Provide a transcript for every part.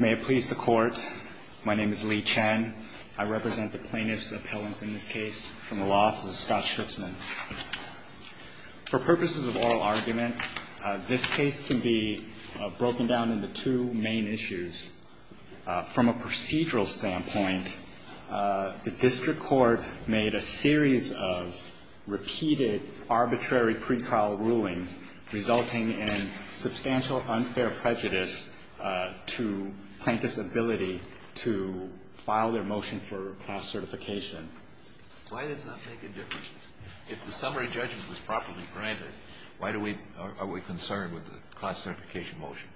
May it please the court, my name is Lee Chen. I represent the plaintiffs' appellants in this case from the law office of Scott Schutzman. For purposes of oral argument, this case can be broken down into two main issues. From a procedural standpoint, the district court made a series of repeated arbitrary pre-trial rulings, resulting in substantial unfair prejudice to plaintiffs' ability to file their motion for class certification. Why does that make a difference? If the summary judgment was properly granted, why are we concerned with the class certification motion?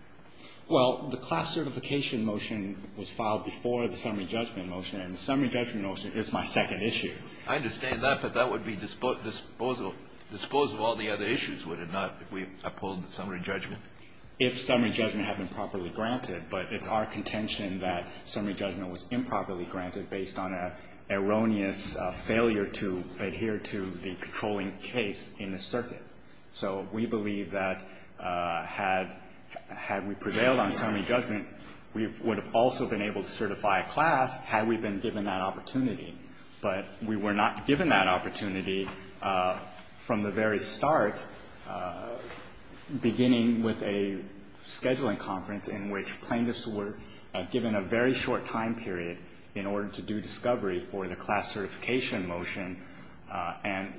Well, the class certification motion was filed before the summary judgment motion, and the summary judgment motion is my All the other issues, would it not, if we uphold the summary judgment? If summary judgment had been properly granted. But it's our contention that summary judgment was improperly granted based on an erroneous failure to adhere to the patrolling case in the circuit. So we believe that had we prevailed on summary judgment, we would have also been able to certify a class had we been given that opportunity. But we were not given that opportunity from the very start, beginning with a scheduling conference in which plaintiffs were given a very short time period in order to do discovery for the class certification motion. And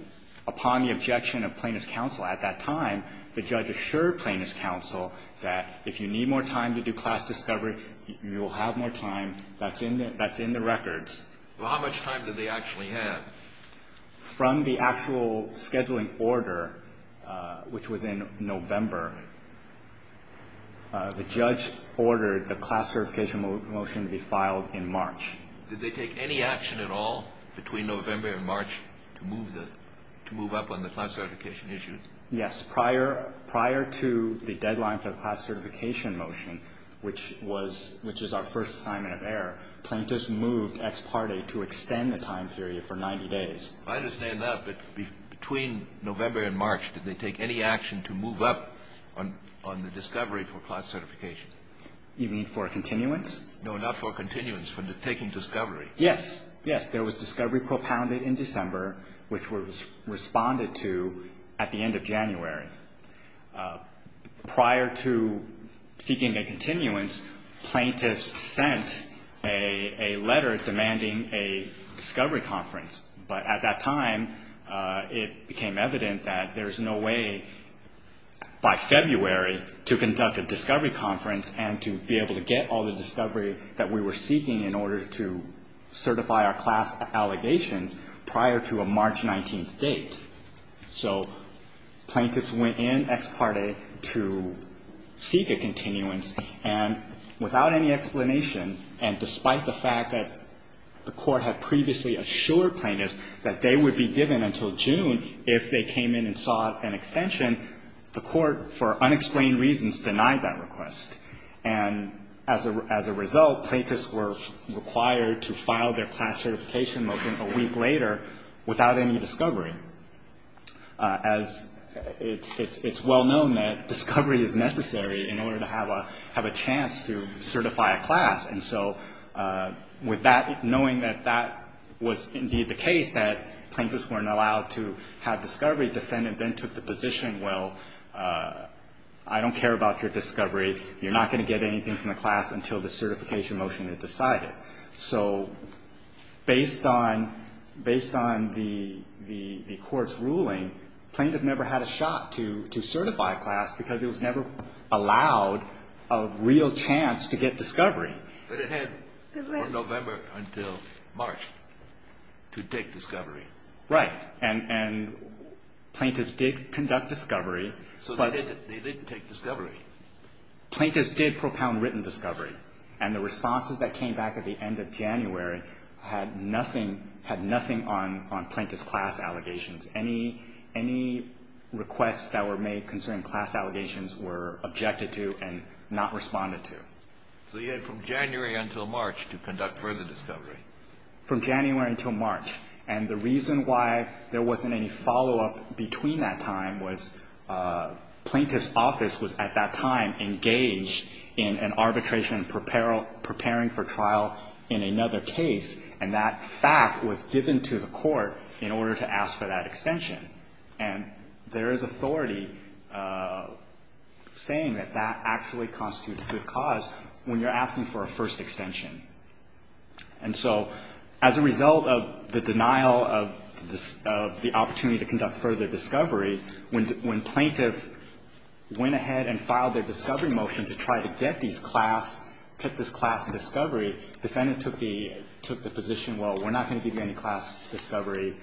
upon the objection of Plaintiff's counsel at that time, the judge assured Plaintiff's counsel that if you need more time to do class discovery, you will have more time. That's in the records. Well, how much time did they actually have? From the actual scheduling order, which was in November, the judge ordered the class certification motion to be filed in March. Did they take any action at all between November and March to move up on the class certification issue? Yes. Prior to the deadline for the class certification motion, which is our first assignment of error, plaintiffs moved ex parte to extend the time period for 90 days. I understand that, but between November and March, did they take any action to move up on the discovery for class certification? You mean for continuance? No, not for continuance, for taking discovery. Yes. Yes. There was discovery propounded in December, which was responded to at the a letter demanding a discovery conference. But at that time, it became evident that there's no way by February to conduct a discovery conference and to be able to get all the discovery that we were seeking in order to certify our class allegations prior to a March 19th date. So plaintiffs went in ex parte to seek a continuance, and without any explanation and despite the fact that the court had previously assured plaintiffs that they would be given until June if they came in and sought an extension, the court, for unexplained reasons, denied that request. And as a result, plaintiffs were required to file their class certification motion a week later without any discovery. As it's well known that discovery is necessary in order to have a chance to certify a class. And so with that, knowing that that was indeed the case, that plaintiffs weren't allowed to have discovery, defendant then took the position, well, I don't care about your discovery, you're not going to get anything from the class until the certification motion is decided. So based on the court's ruling, plaintiff never had a shot to certify a class because it was never allowed a real chance to get discovery. But it had from November until March to take discovery. Right. And plaintiffs did conduct discovery. So they did take discovery. Plaintiffs did propound written discovery. And the responses that came back at the end of January had nothing on plaintiff's class allegations. Any requests that were made concerning class allegations were objected to and not responded to. So you had from January until March to conduct further discovery. From January until March. And the reason why there wasn't any follow-up between that time was plaintiff's case was at that time engaged in an arbitration preparing for trial in another case. And that fact was given to the court in order to ask for that extension. And there is authority saying that that actually constitutes good cause when you're asking for a first extension. And so as a result of the denial of the opportunity to conduct further discovery, when plaintiff went ahead and filed their discovery motion to try to get these class, get this class discovery, defendant took the position, well, we're not going to give you any class discovery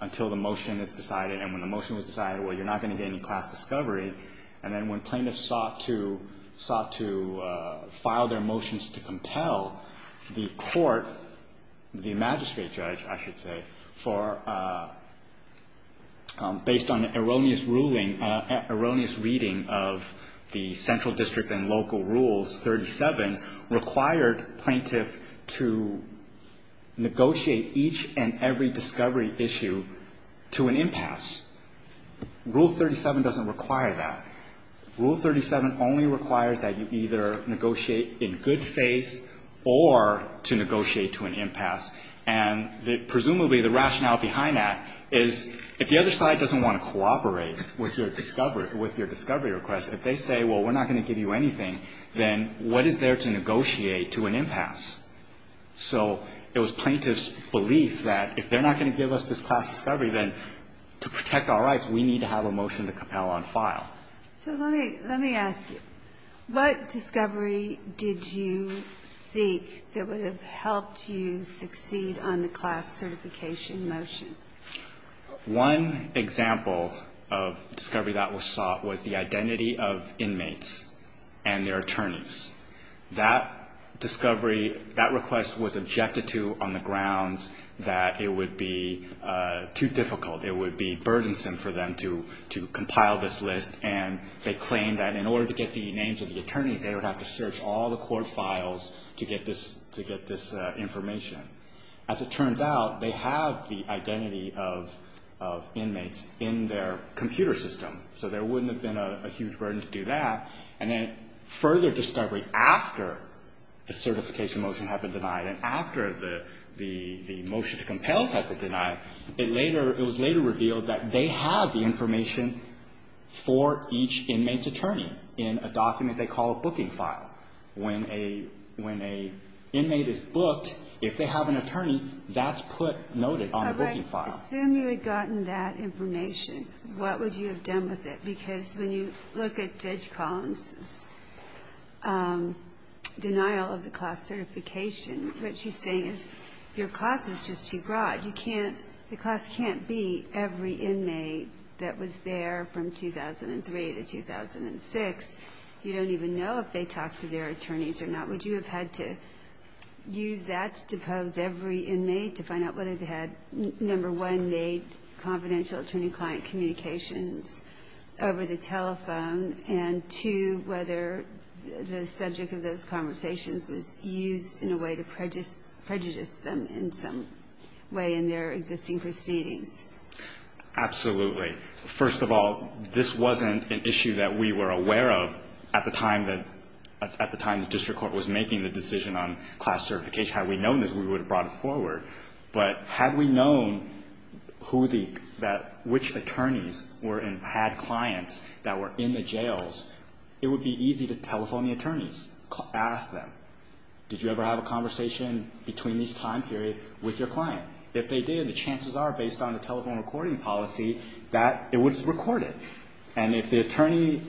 until the motion is decided. And when the motion was decided, well, you're not going to get any class discovery. And then when plaintiff sought to file their motions to compel the court, the magistrate or the judge, I should say, based on erroneous ruling, erroneous reading of the central district and local rules, 37 required plaintiff to negotiate each and every discovery issue to an impasse. Rule 37 doesn't require that. Rule 37 only requires that you either negotiate in good faith or to negotiate to an impasse. And presumably the rationale behind that is if the other side doesn't want to cooperate with your discovery request, if they say, well, we're not going to give you anything, then what is there to negotiate to an impasse? So it was plaintiff's belief that if they're not going to give us this class discovery, then to protect our rights, we need to have a motion to compel on file. So let me ask you, what discovery did you seek that would have helped you succeed on the class certification motion? One example of discovery that was sought was the identity of inmates and their attorneys. That discovery, that request was objected to on the grounds that it would be too difficult. It would be burdensome for them to compile this list, and they claimed that in order to get the names of the attorneys, they would have to search all the court files to get this information. As it turns out, they have the identity of inmates in their computer system, so there wouldn't have been a huge burden to do that. And then further discovery after the certification motion had been denied and after the motion to compel had been denied, it later, it was later revealed that they had the information for each inmate's attorney in a document they call a booking file. When a, when an inmate is booked, if they have an attorney, that's put, noted on the booking file. But let's assume you had gotten that information. What would you have done with it? Because when you look at Judge Collins's denial of the class certification, what she's saying is your class is just too broad. You can't, the class can't be every inmate that was there from 2003 to 2006. You don't even know if they talked to their attorneys or not. Would you have had to use that to pose every inmate to find out whether they had, number one, made confidential attorney-client communications over the telephone, and two, whether the subject of those conversations was used in a way to prejudice them in some way in their existing proceedings? Absolutely. First of all, this wasn't an issue that we were aware of at the time that, at the time the district court was making the decision on class certification. Had we known this, we would have brought it forward. But had we known who the, which attorneys were and had clients that were in the jails, it would be easy to telephone the attorneys, ask them, did you ever have a conversation between this time period with your client? If they did, the chances are, based on the telephone recording policy, that it was recorded. And if the attorney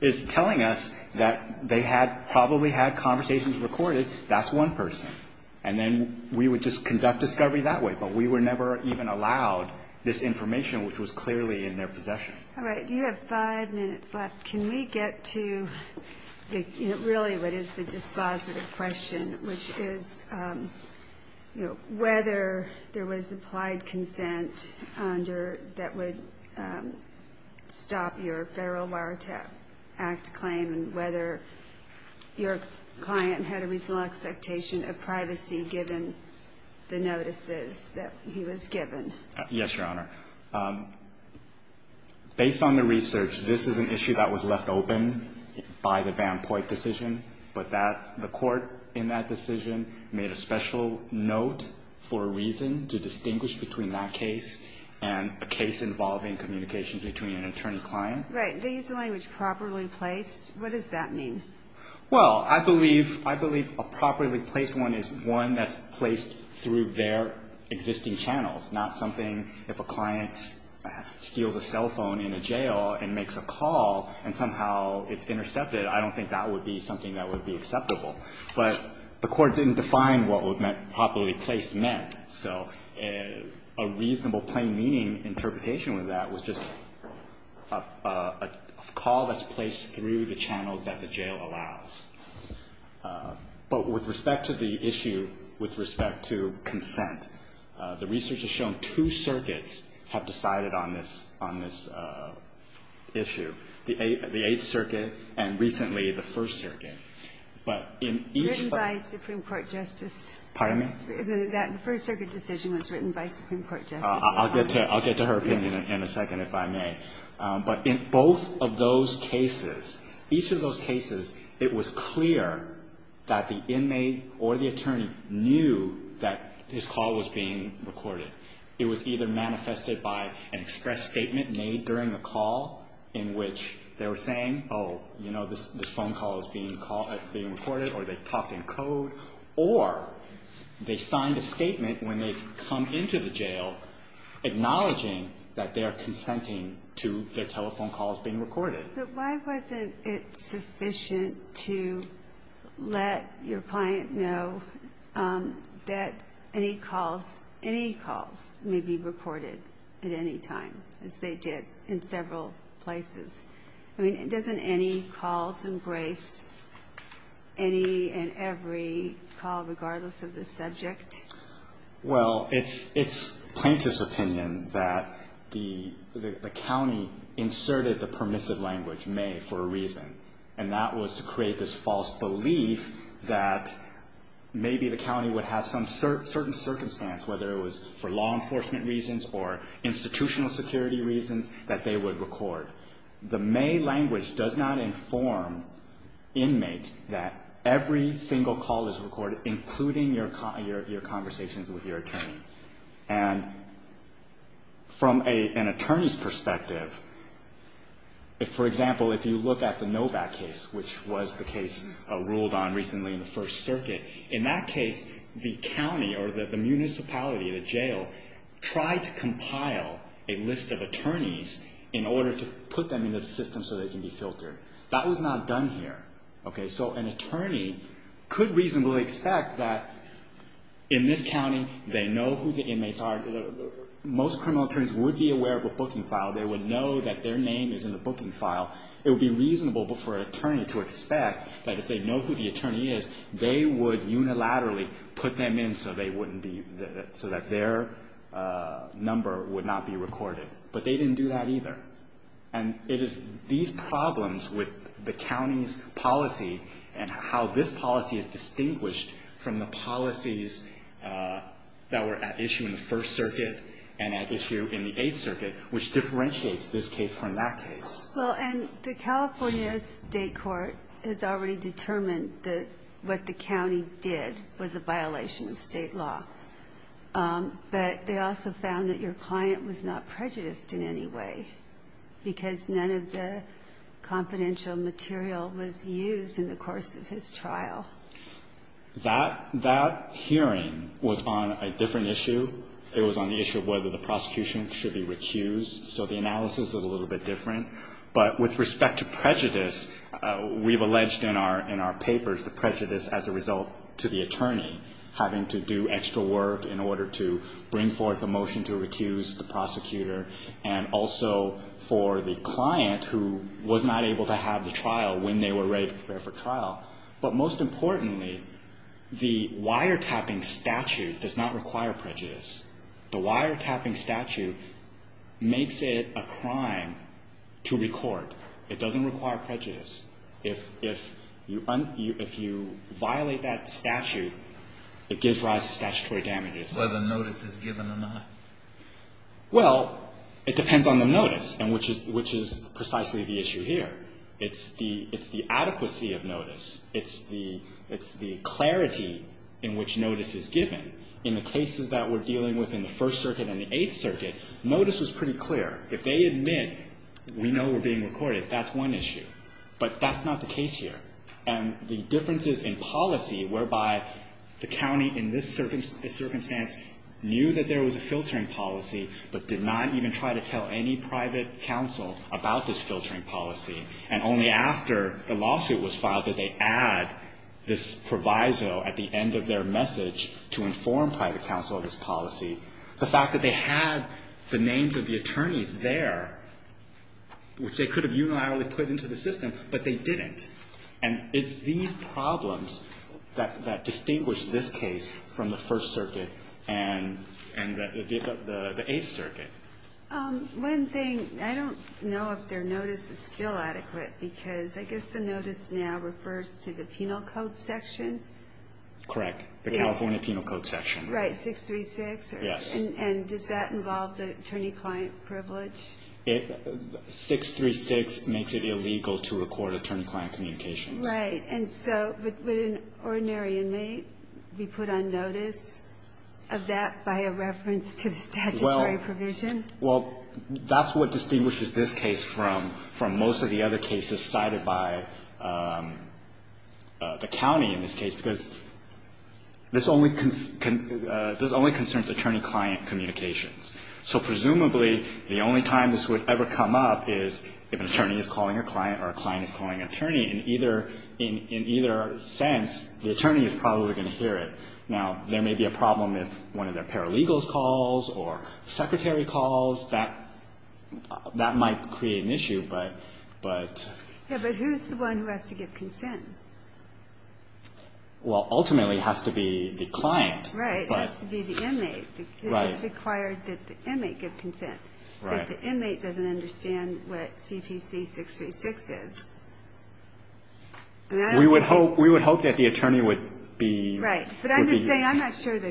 is telling us that they had probably had conversations recorded, that's one person. And then we would just conduct discovery that way. But we were never even allowed this information, which was clearly in their possession. All right. You have five minutes left. Can we get to really what is the dispositive question, which is, you know, whether there was applied consent under, that would stop your Federal Wiretap Act claim and whether your client had a reasonable expectation of privacy given the notices that he was given? Yes, Your Honor. Based on the research, this is an issue that was left open by the Van Poit decision. But that, the court in that decision made a special note for a reason to distinguish between that case and a case involving communication between an attorney-client. Right. Did they use the language properly placed? What does that mean? Well, I believe a properly placed one is one that's placed through their existing channels, not something if a client steals a cell phone in a jail and makes a call and somehow it's intercepted, I don't think that would be something that would be acceptable. But the court didn't define what properly placed meant. So a reasonable, plain-meaning interpretation of that was just a call that's placed through the channels that the jail allows. But with respect to the issue, with respect to consent, the research has shown two circuits have decided on this, on this issue, the Eighth Circuit and recently the First Circuit. But in each one of those circuits, the Eighth Circuit and recently the First Circuit decision was written by Supreme Court justices. I'll get to her opinion in a second, if I may. But in both of those cases, each of those cases, it was clear that the inmate or the attorney knew that his call was being recorded. It was either manifested by an express statement made during the call in which they were saying, oh, you know, this phone call is being recorded, or they talked in code, or they signed a statement when they come into the jail acknowledging that they are consenting to their telephone calls being recorded. But why wasn't it sufficient to let your client know that any calls, any calls may be recorded at any time, as they did in several places? I mean, doesn't any calls embrace any and every call, regardless of the subject? Well, it's plaintiff's opinion that the county inserted the permissive language may for a reason, and that was to create this false belief that maybe the county would have some certain circumstance, whether it was for law enforcement reasons or institutional security reasons, that they would record. The may language does not inform inmates that every single call is recorded, including your conversations with your attorney. And from an attorney's perspective, for example, if you look at the Novak case, which was the case ruled on recently in the First Circuit, in that case, the county or the municipality, the jail, tried to compile a list of attorneys in order to put them into the system so they can be filtered. That was not done here. So an attorney could reasonably expect that in this county, they know who the inmates are. Most criminal attorneys would be aware of a booking file. They would know that their name is in the booking file. It would be reasonable for an attorney to expect that if they know who the attorney is, they would unilaterally put them in so that their number would not be recorded. But they didn't do that either. And it is these problems with the county's policy and how this policy is distinguished from the policies that were at issue in the First Circuit and at issue in the Eighth Circuit which differentiates this case from that case. Well, and the California State Court has already determined that what the county did was a violation of State law. But they also found that your client was not prejudiced in any way because none of the confidential material was used in the course of his trial. That hearing was on a different issue. It was on the issue of whether the prosecution should be recused. So the analysis is a little bit different. But with respect to prejudice, we've alleged in our papers the prejudice as a result to the attorney having to do extra work in order to bring forth a motion to recuse the prosecutor and also for the client who was not able to have the trial when they were ready to prepare for trial. But most importantly, the wiretapping statute does not require prejudice. The wiretapping statute makes it a crime to record. It doesn't require prejudice. If you violate that statute, it gives rise to statutory damages. Whether notice is given or not. Well, it depends on the notice, which is precisely the issue here. It's the adequacy of notice. It's the clarity in which notice is given. In the cases that we're dealing with in the First Circuit and the Eighth Circuit, notice was pretty clear. If they admit we know we're being recorded, that's one issue. But that's not the case here. And the differences in policy whereby the county in this circumstance knew that there was a filtering policy but did not even try to tell any private counsel about this filtering policy, and only after the lawsuit was filed did they add this proviso at the end of their message to inform private counsel of this policy, the fact that they had the names of the attorneys there, which they could have unilaterally put into the system, but they didn't. And it's these problems that distinguish this case from the First Circuit and the Eighth Circuit. One thing, I don't know if their notice is still adequate, because I guess the notice now refers to the penal code section? Correct. The California penal code section. Right. 636? Yes. And does that involve the attorney-client privilege? 636 makes it illegal to record attorney-client communications. Right. And so would an ordinary inmate be put on notice of that by a reference to the statutory provision? Well, that's what distinguishes this case from most of the other cases cited by the county in this case, because this only concerns attorney-client communications. So presumably, the only time this would ever come up is if an attorney is calling a client or a client is calling an attorney. In either sense, the attorney is probably going to hear it. Now, there may be a problem if one of their paralegals calls or secretary calls. That might create an issue. Yeah. But who's the one who has to give consent? Well, ultimately, it has to be the client. Right. It has to be the inmate. Right. It's required that the inmate give consent. Right. If the inmate doesn't understand what CPC 636 is. We would hope that the attorney would be the client. Right. But I'm just saying I'm not sure the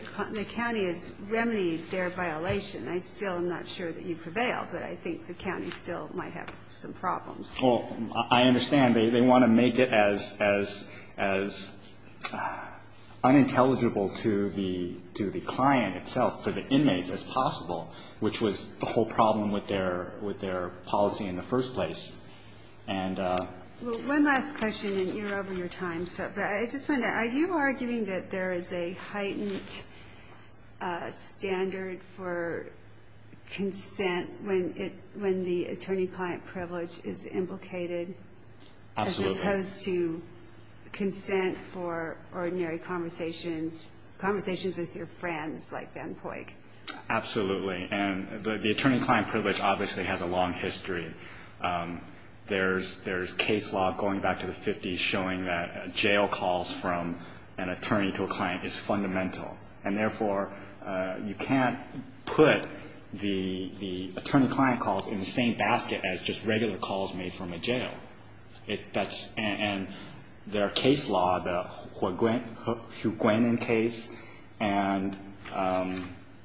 county has remedied their violation. I still am not sure that you've prevailed, but I think the county still might have some problems. Well, I understand. They want to make it as unintelligible to the client itself, for the inmates, as possible, which was the whole problem with their policy in the first place. And one last question, and you're over your time. I just wonder, are you arguing that there is a heightened standard for consent when the attorney-client privilege is implicated? Absolutely. As opposed to consent for ordinary conversations, conversations with your friends like Ben Poik. Absolutely. And the attorney-client privilege obviously has a long history. There's case law going back to the 50s showing that jail calls from an attorney to a client is fundamental. And, therefore, you can't put the attorney-client calls in the same basket as just regular calls made from a jail. And there are case law, the Huiguanan case and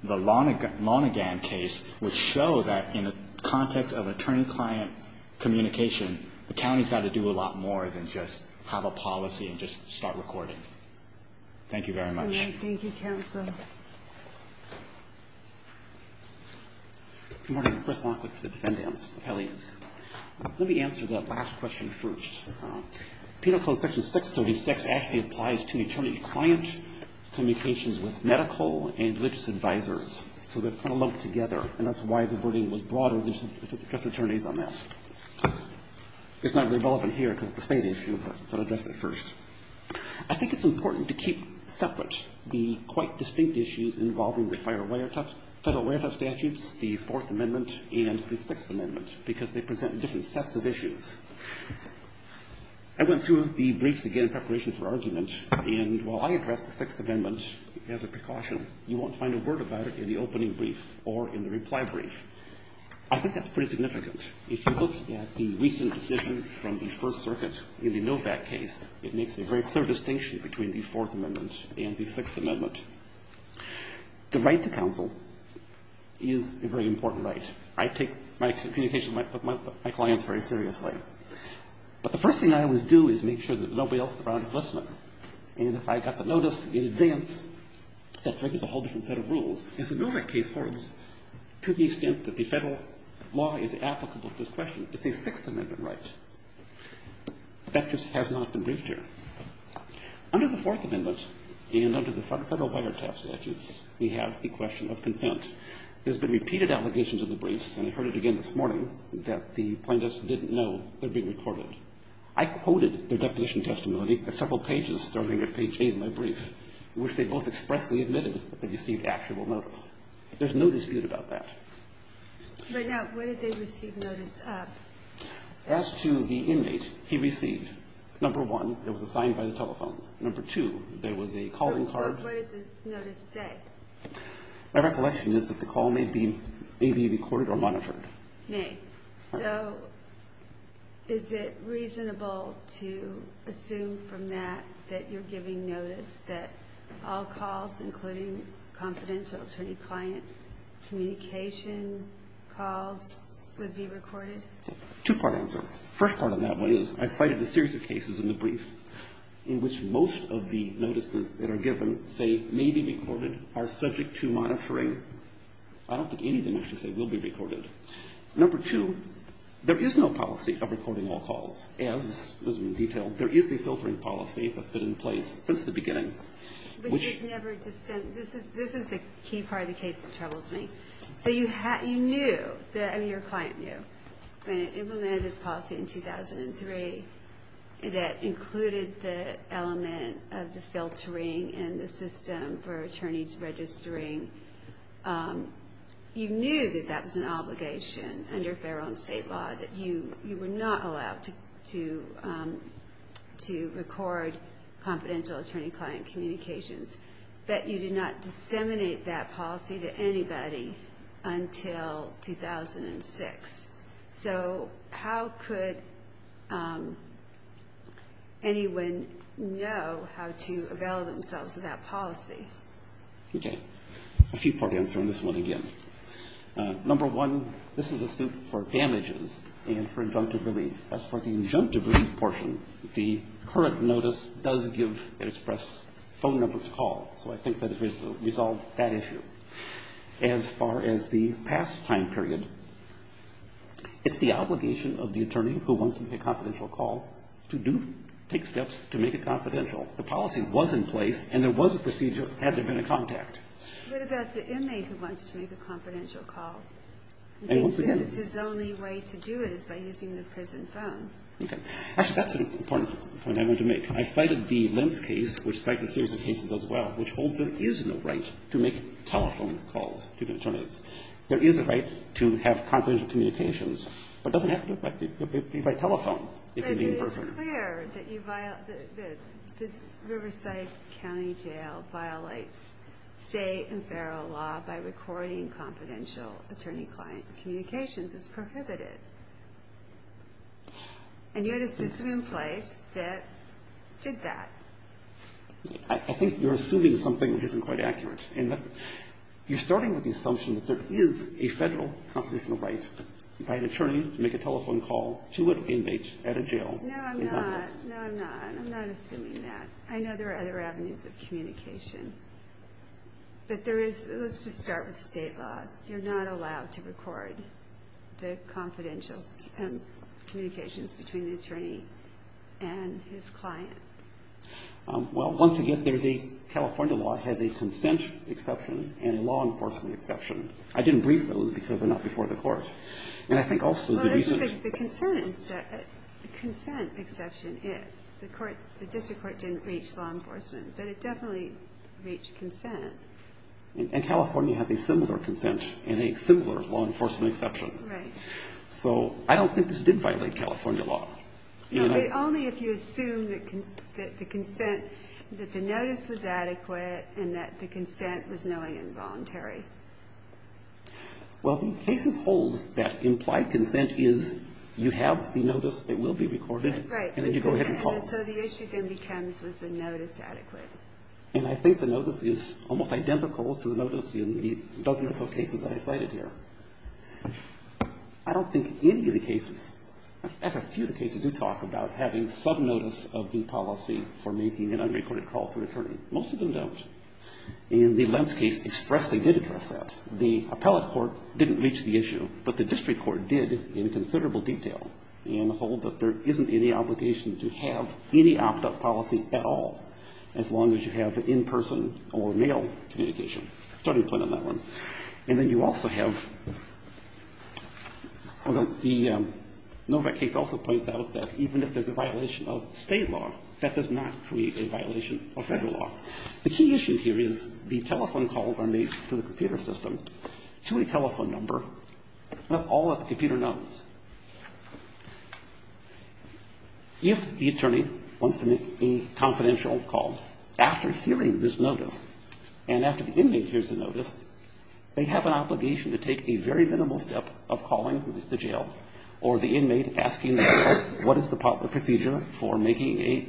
the Lonegan case, which show that in the context of attorney-client communication, the county's got to do a lot more than just have a policy and just start recording. Thank you very much. All right. Thank you, counsel. Chris Lockwood for the Defendant's Appeal. Let me answer the last question first. Penal Code Section 636 actually applies to attorney-client communications with medical and religious advisors. So they're kind of lumped together, and that's why the wording was broader. There's just attorneys on that. It's not revolving here because it's a State issue, but I'll address that first. I think it's important to keep separate the quite distinct issues involving the Federal Warrant Office statutes, the Fourth Amendment and the Sixth Amendment, because they present different sets of issues. I went through the briefs again in preparation for argument, and while I addressed the Sixth Amendment as a precaution, you won't find a word about it in the opening brief or in the reply brief. I think that's pretty significant. If you look at the recent decision from the First Circuit in the Novak case, it makes a very clear distinction between the Fourth Amendment and the Sixth Amendment. The right to counsel is a very important right. I take my communication with my clients very seriously. But the first thing I always do is make sure that nobody else around is listening. And if I got the notice in advance, that triggers a whole different set of rules. As the Novak case holds, to the extent that the Federal law is applicable to this question, it's a Sixth Amendment right. That just has not been briefed here. Under the Fourth Amendment and under the Federal wiretap statutes, we have the question of consent. There's been repeated allegations of the briefs, and I heard it again this morning, that the plaintiffs didn't know they're being recorded. I quoted their deposition testimony at several pages, starting at page 8 of my brief, in which they both expressly admitted that they received actual notice. There's no dispute about that. Right now, what did they receive notice of? As to the inmate, he received, number one, it was assigned by the telephone. Number two, there was a calling card. What did the notice say? My recollection is that the call may be recorded or monitored. May. So is it reasonable to assume from that that you're giving notice that all calls, including confidential attorney-client communication calls, would be recorded? Two-part answer. First part of that one is I cited a series of cases in the brief in which most of the notices that are given say may be recorded, are subject to monitoring. I don't think any of them actually say will be recorded. Number two, there is no policy of recording all calls, as is detailed. There is the filtering policy that's been in place since the beginning. Which is never dissent. This is the key part of the case that troubles me. So you knew, I mean your client knew, when it implemented this policy in 2003, that included the element of the filtering and the system for attorneys registering you knew that that was an obligation under federal and state law, that you were not allowed to record confidential attorney-client communications. But you did not disseminate that policy to anybody until 2006. So how could anyone know how to avail themselves of that policy? Okay. A few-part answer on this one again. Number one, this is a suit for damages and for injunctive relief. As for the injunctive relief portion, the current notice does give an express phone number to call. So I think that it resolves that issue. As far as the past time period, it's the obligation of the attorney who wants to make a confidential call to do, take steps to make it confidential. The policy was in place and there was a procedure had there been a contact. What about the inmate who wants to make a confidential call? And once again- He thinks his only way to do it is by using the prison phone. Okay. Actually, that's an important point I wanted to make. I cited the Lentz case, which cites a series of cases as well, which holds there is no right to make telephone calls to the attorneys. There is a right to have confidential communications, but it doesn't have to be by telephone if you're being personal. It is clear that the Riverside County Jail violates state and federal law by recording confidential attorney-client communications. It's prohibited. And you had a system in place that did that. I think you're assuming something that isn't quite accurate. You're starting with the assumption that there is a Federal constitutional right by an attorney to make a telephone call to an inmate at a jail. No, I'm not. No, I'm not. I'm not assuming that. I know there are other avenues of communication, but let's just start with state law. You're not allowed to record the confidential communications between the attorney and his client. Well, once again, California law has a consent exception and a law enforcement exception. I didn't brief those because they're not before the court. And I think also the reason the consent exception is the district court didn't reach law enforcement, but it definitely reached consent. And California has a similar consent and a similar law enforcement exception. Right. So I don't think this did violate California law. Only if you assume that the consent, that the notice was adequate and that the consent was knowing and voluntary. Well, the cases hold that implied consent is you have the notice, it will be recorded, and then you go ahead and call. Right. And so the issue then becomes was the notice adequate. And I think the notice is almost identical to the notice in the dozen or so cases that I cited here. I don't think any of the cases, as a few of the cases do talk about having subnotice of the policy for making an unrecorded call to an attorney. Most of them don't. And the Lenz case expressly did address that. The appellate court didn't reach the issue, but the district court did in considerable detail and hold that there isn't any obligation to have any opt-out policy at all, as long as you have an in-person or mail communication. Starting point on that one. And then you also have the Novak case also points out that even if there's a violation of state law, that does not create a violation of Federal law. The key issue here is the telephone calls are made to the computer system to a telephone number, and that's all that the computer knows. If the attorney wants to make a confidential call, after hearing this notice and after the inmate hears the notice, they have an obligation to take a very minimal step of calling the jail or the inmate asking them what is the procedure for making a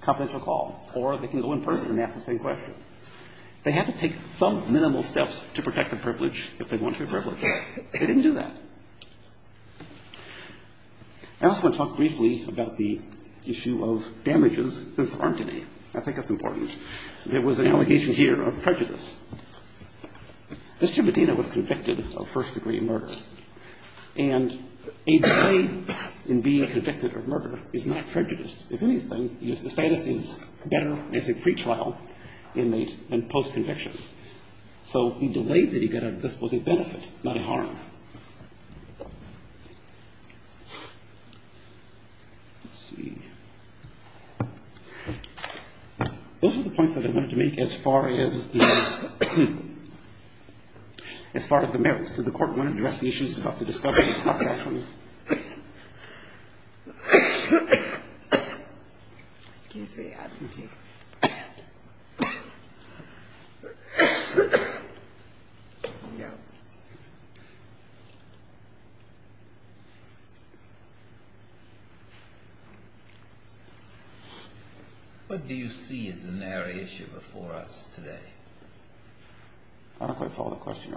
confidential call. Or they can go in person and ask the same question. They have to take some minimal steps to protect the privilege if they want to be privileged. They didn't do that. I also want to talk briefly about the issue of damages that's armed today. I think that's important. There was an allegation here of prejudice. Mr. Medina was convicted of first-degree murder. And a delay in being convicted of murder is not prejudiced. If anything, his status is better as a pretrial inmate than post-conviction. So the delay that he got out of this was a benefit, not a harm. Let's see. Those are the points that I wanted to make as far as the merits. Did the court want to address the issues about the discovery of confidentiality? Excuse me. I didn't hear. What do you see as the narrow issue before us today? I don't quite follow the question.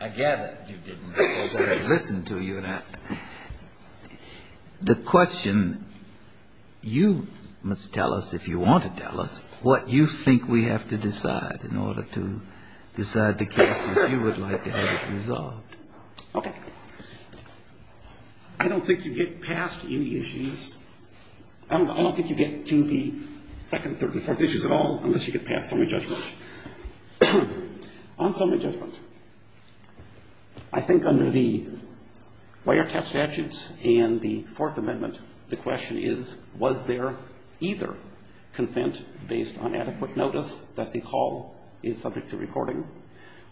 I gather you didn't, so I listened to you. The question, you must tell us, if you want to tell us, what you think we have to decide in order to decide the case if you would like to have it resolved. Okay. I don't think you get past any issues. I don't think you get to the second, third, and fourth issues at all unless you get past summary judgment. On summary judgment, I think under the Wiretap statutes and the Fourth Amendment, the question is was there either consent based on adequate notice that the call is subject to reporting,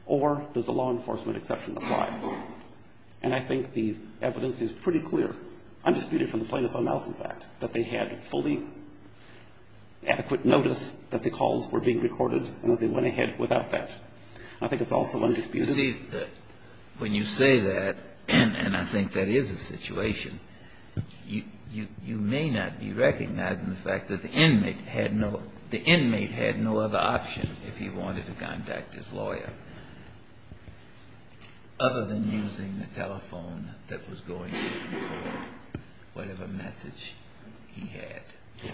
or does the law enforcement exception apply? And I think the evidence is pretty clear. I'm disputing from the plaintiff's own mouth, in fact, that they had fully adequate notice that the calls were being recorded and that they went ahead without that. I think it's also undisputed. You see, when you say that, and I think that is a situation, you may not be recognizing the fact that the inmate had no other option if he wanted to contact his lawyer other than using the telephone that was going to record whatever message he had.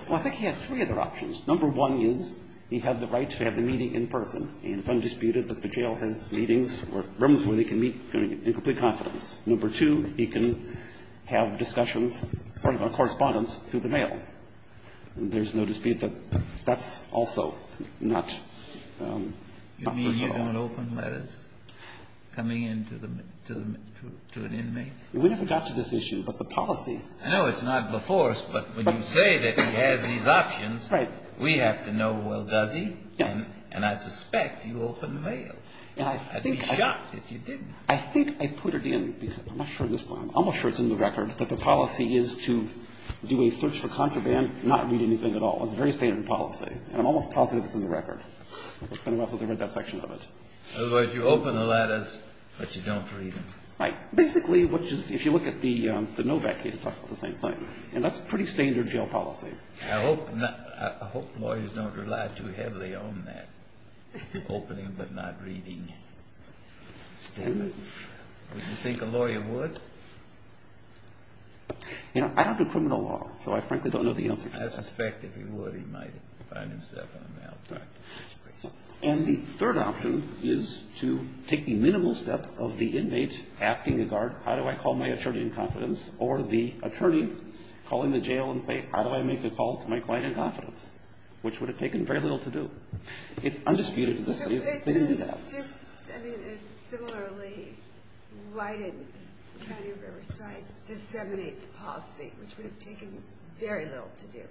Well, I think he had three other options. Number one is he had the right to have the meeting in person, and it's undisputed that the jail has meetings or rooms where they can meet in complete confidence. Number two, he can have discussions, correspondence through the mail. There's no dispute that that's also not certain at all. You mean you don't open letters coming in to an inmate? We never got to this issue, but the policy. I know it's not before us, but when you say that he has these options, we have to know, well, does he? Yes. And I suspect you open mail. I'd be shocked if you didn't. I think I put it in, because I'm not sure at this point, I'm almost sure it's in the record, that the policy is to do a search for contraband, not read anything at all. It's a very standard policy, and I'm almost positive it's in the record. It's been a while since I read that section of it. In other words, you open the letters, but you don't read them. Right. Basically, if you look at the Novak case, it talks about the same thing. And that's a pretty standard jail policy. I hope lawyers don't rely too heavily on that opening but not reading standard. Would you think a lawyer would? You know, I don't do criminal law, so I frankly don't know the answer to that. I suspect if he would, he might find himself in a malpractice situation. And the third option is to take the minimal step of the inmate asking the guard, how do I call my attorney in confidence? Or the attorney calling the jail and saying, how do I make a call to my client in confidence? Which would have taken very little to do. It's undisputed in this case. They didn't do that. I mean, similarly, why didn't the County of Riverside disseminate the policy, which would have taken very little to do?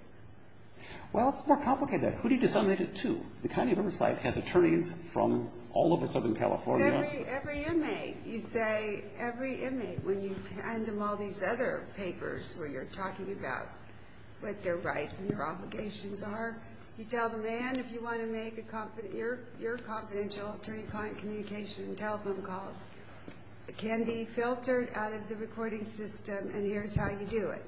Well, it's more complicated. Who do you disseminate it to? The County of Riverside has attorneys from all over Southern California. Every inmate. You say every inmate. When you hand them all these other papers where you're talking about what their rights and their obligations are, you tell the man if you want to make your confidential attorney client communication and telephone calls. It can be filtered out of the recording system, and here's how you do it.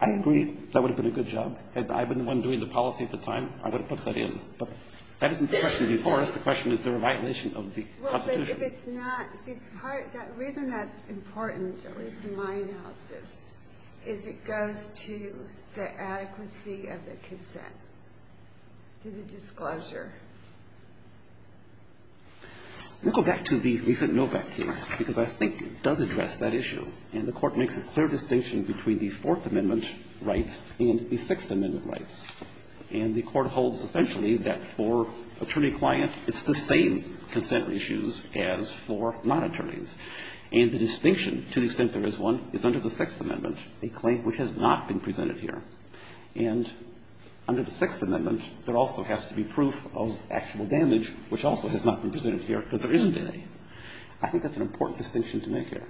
I agree. That would have been a good job. I've been the one doing the policy at the time. I would have put that in. But that isn't the question before us. The question is the reviolation of the Constitution. Well, but if it's not, see, the reason that's important, at least in my analysis, is it goes to the adequacy of the consent, to the disclosure. We'll go back to the recent Novak case, because I think it does address that issue, and the Court makes a clear distinction between the Fourth Amendment rights and the Sixth Amendment rights. And the Court holds essentially that for attorney-client, it's the same consent issues as for non-attorneys. And the distinction, to the extent there is one, is under the Sixth Amendment, a claim which has not been presented here. And under the Sixth Amendment, there also has to be proof of actual damage, which also has not been presented here, because there isn't any. I think that's an important distinction to make here.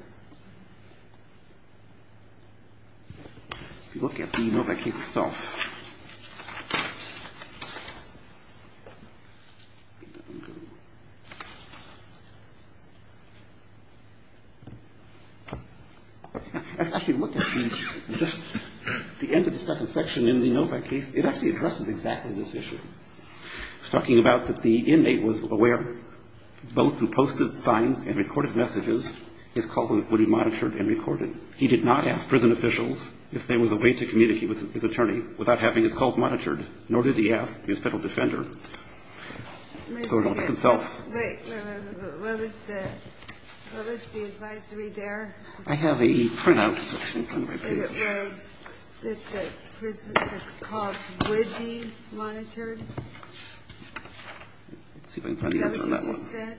If you look at the Novak case itself, if you look at the end of the second section in the Novak case, it actually addresses exactly this issue. It's talking about that the inmate was aware, both through posted signs and recorded messages, his culprit would be monitored and recorded. He did not ask prison officials if there was a way to communicate with his attorney without having his calls monitored, nor did he ask his federal defender or Novak himself. Wait, wait, wait. What was the advisory there? I have a printout. It was that the prison calls would be monitored. Let's see if I can find the answer on that one. Is that what you just said?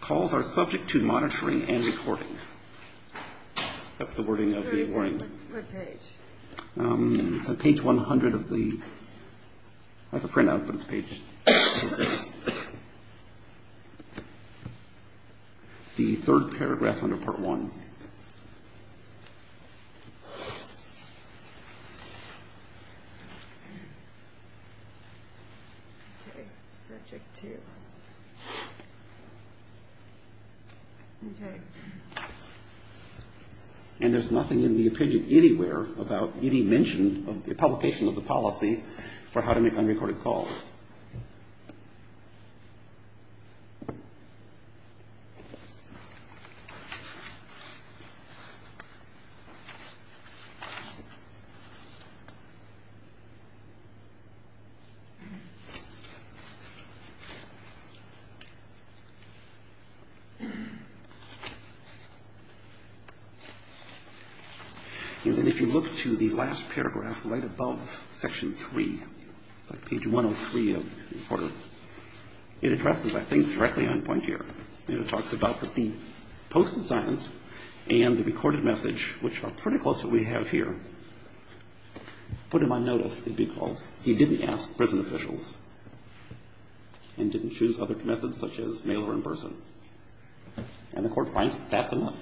Calls are subject to monitoring and recording. That's the wording of the warning. What page? It's on page 100 of the printout, but it's page 100. It's the third paragraph under Part 1. And there's nothing in the opinion anywhere about any mention of the publication of the policy for how to make unrecorded calls. And then if you look to the last paragraph right above section 3, it's like page 103 of the report, it addresses that thing directly on point here. And it talks about that the posted signs and the recorded message, which are pretty close to what we have here, put him on notice, they'd be called. He didn't ask prison officials and didn't choose other methods such as mail or in person. And the court finds that that's enough.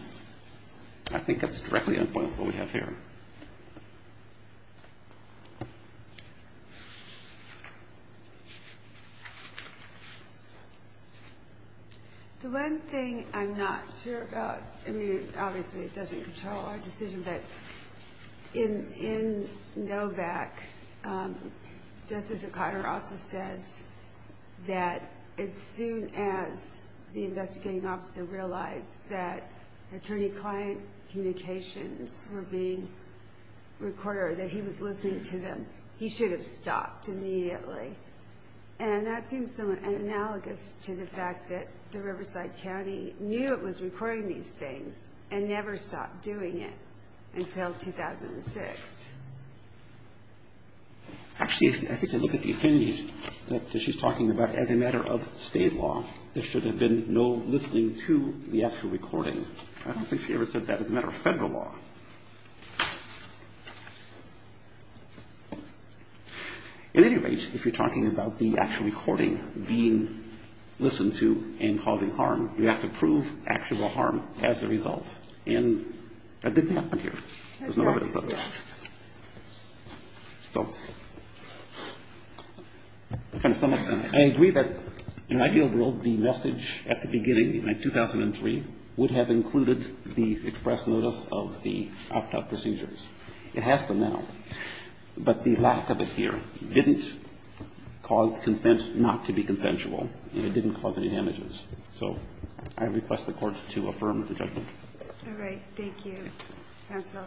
I think that's directly on point with what we have here. The one thing I'm not sure about, I mean, obviously it doesn't control our decision, but in Novak, Justice O'Connor also says that as soon as the investigating officer realized that attorney-client communications were being recorded, or that he was listening to them, he should have stopped immediately. And that seems somewhat analogous to the fact that the Riverside County knew it was recording these things and never stopped doing it until 2006. Actually, I think if you look at the opinions that she's talking about, as a matter of State law, there should have been no listening to the actual recording. I don't think she ever said that as a matter of Federal law. At any rate, if you're talking about the actual recording being listened to and causing harm, you have to prove actual harm as a result, and that didn't happen here. There's no evidence of that. So to sum up, I agree that in an ideal world, the message at the beginning, in 2003, would have included the express notice of the opt-out procedures. It has them now. But the lack of it here didn't cause consent not to be consensual, and it didn't cause any damages. So I request the Court to affirm the judgment. All right. Thank you. Counsel.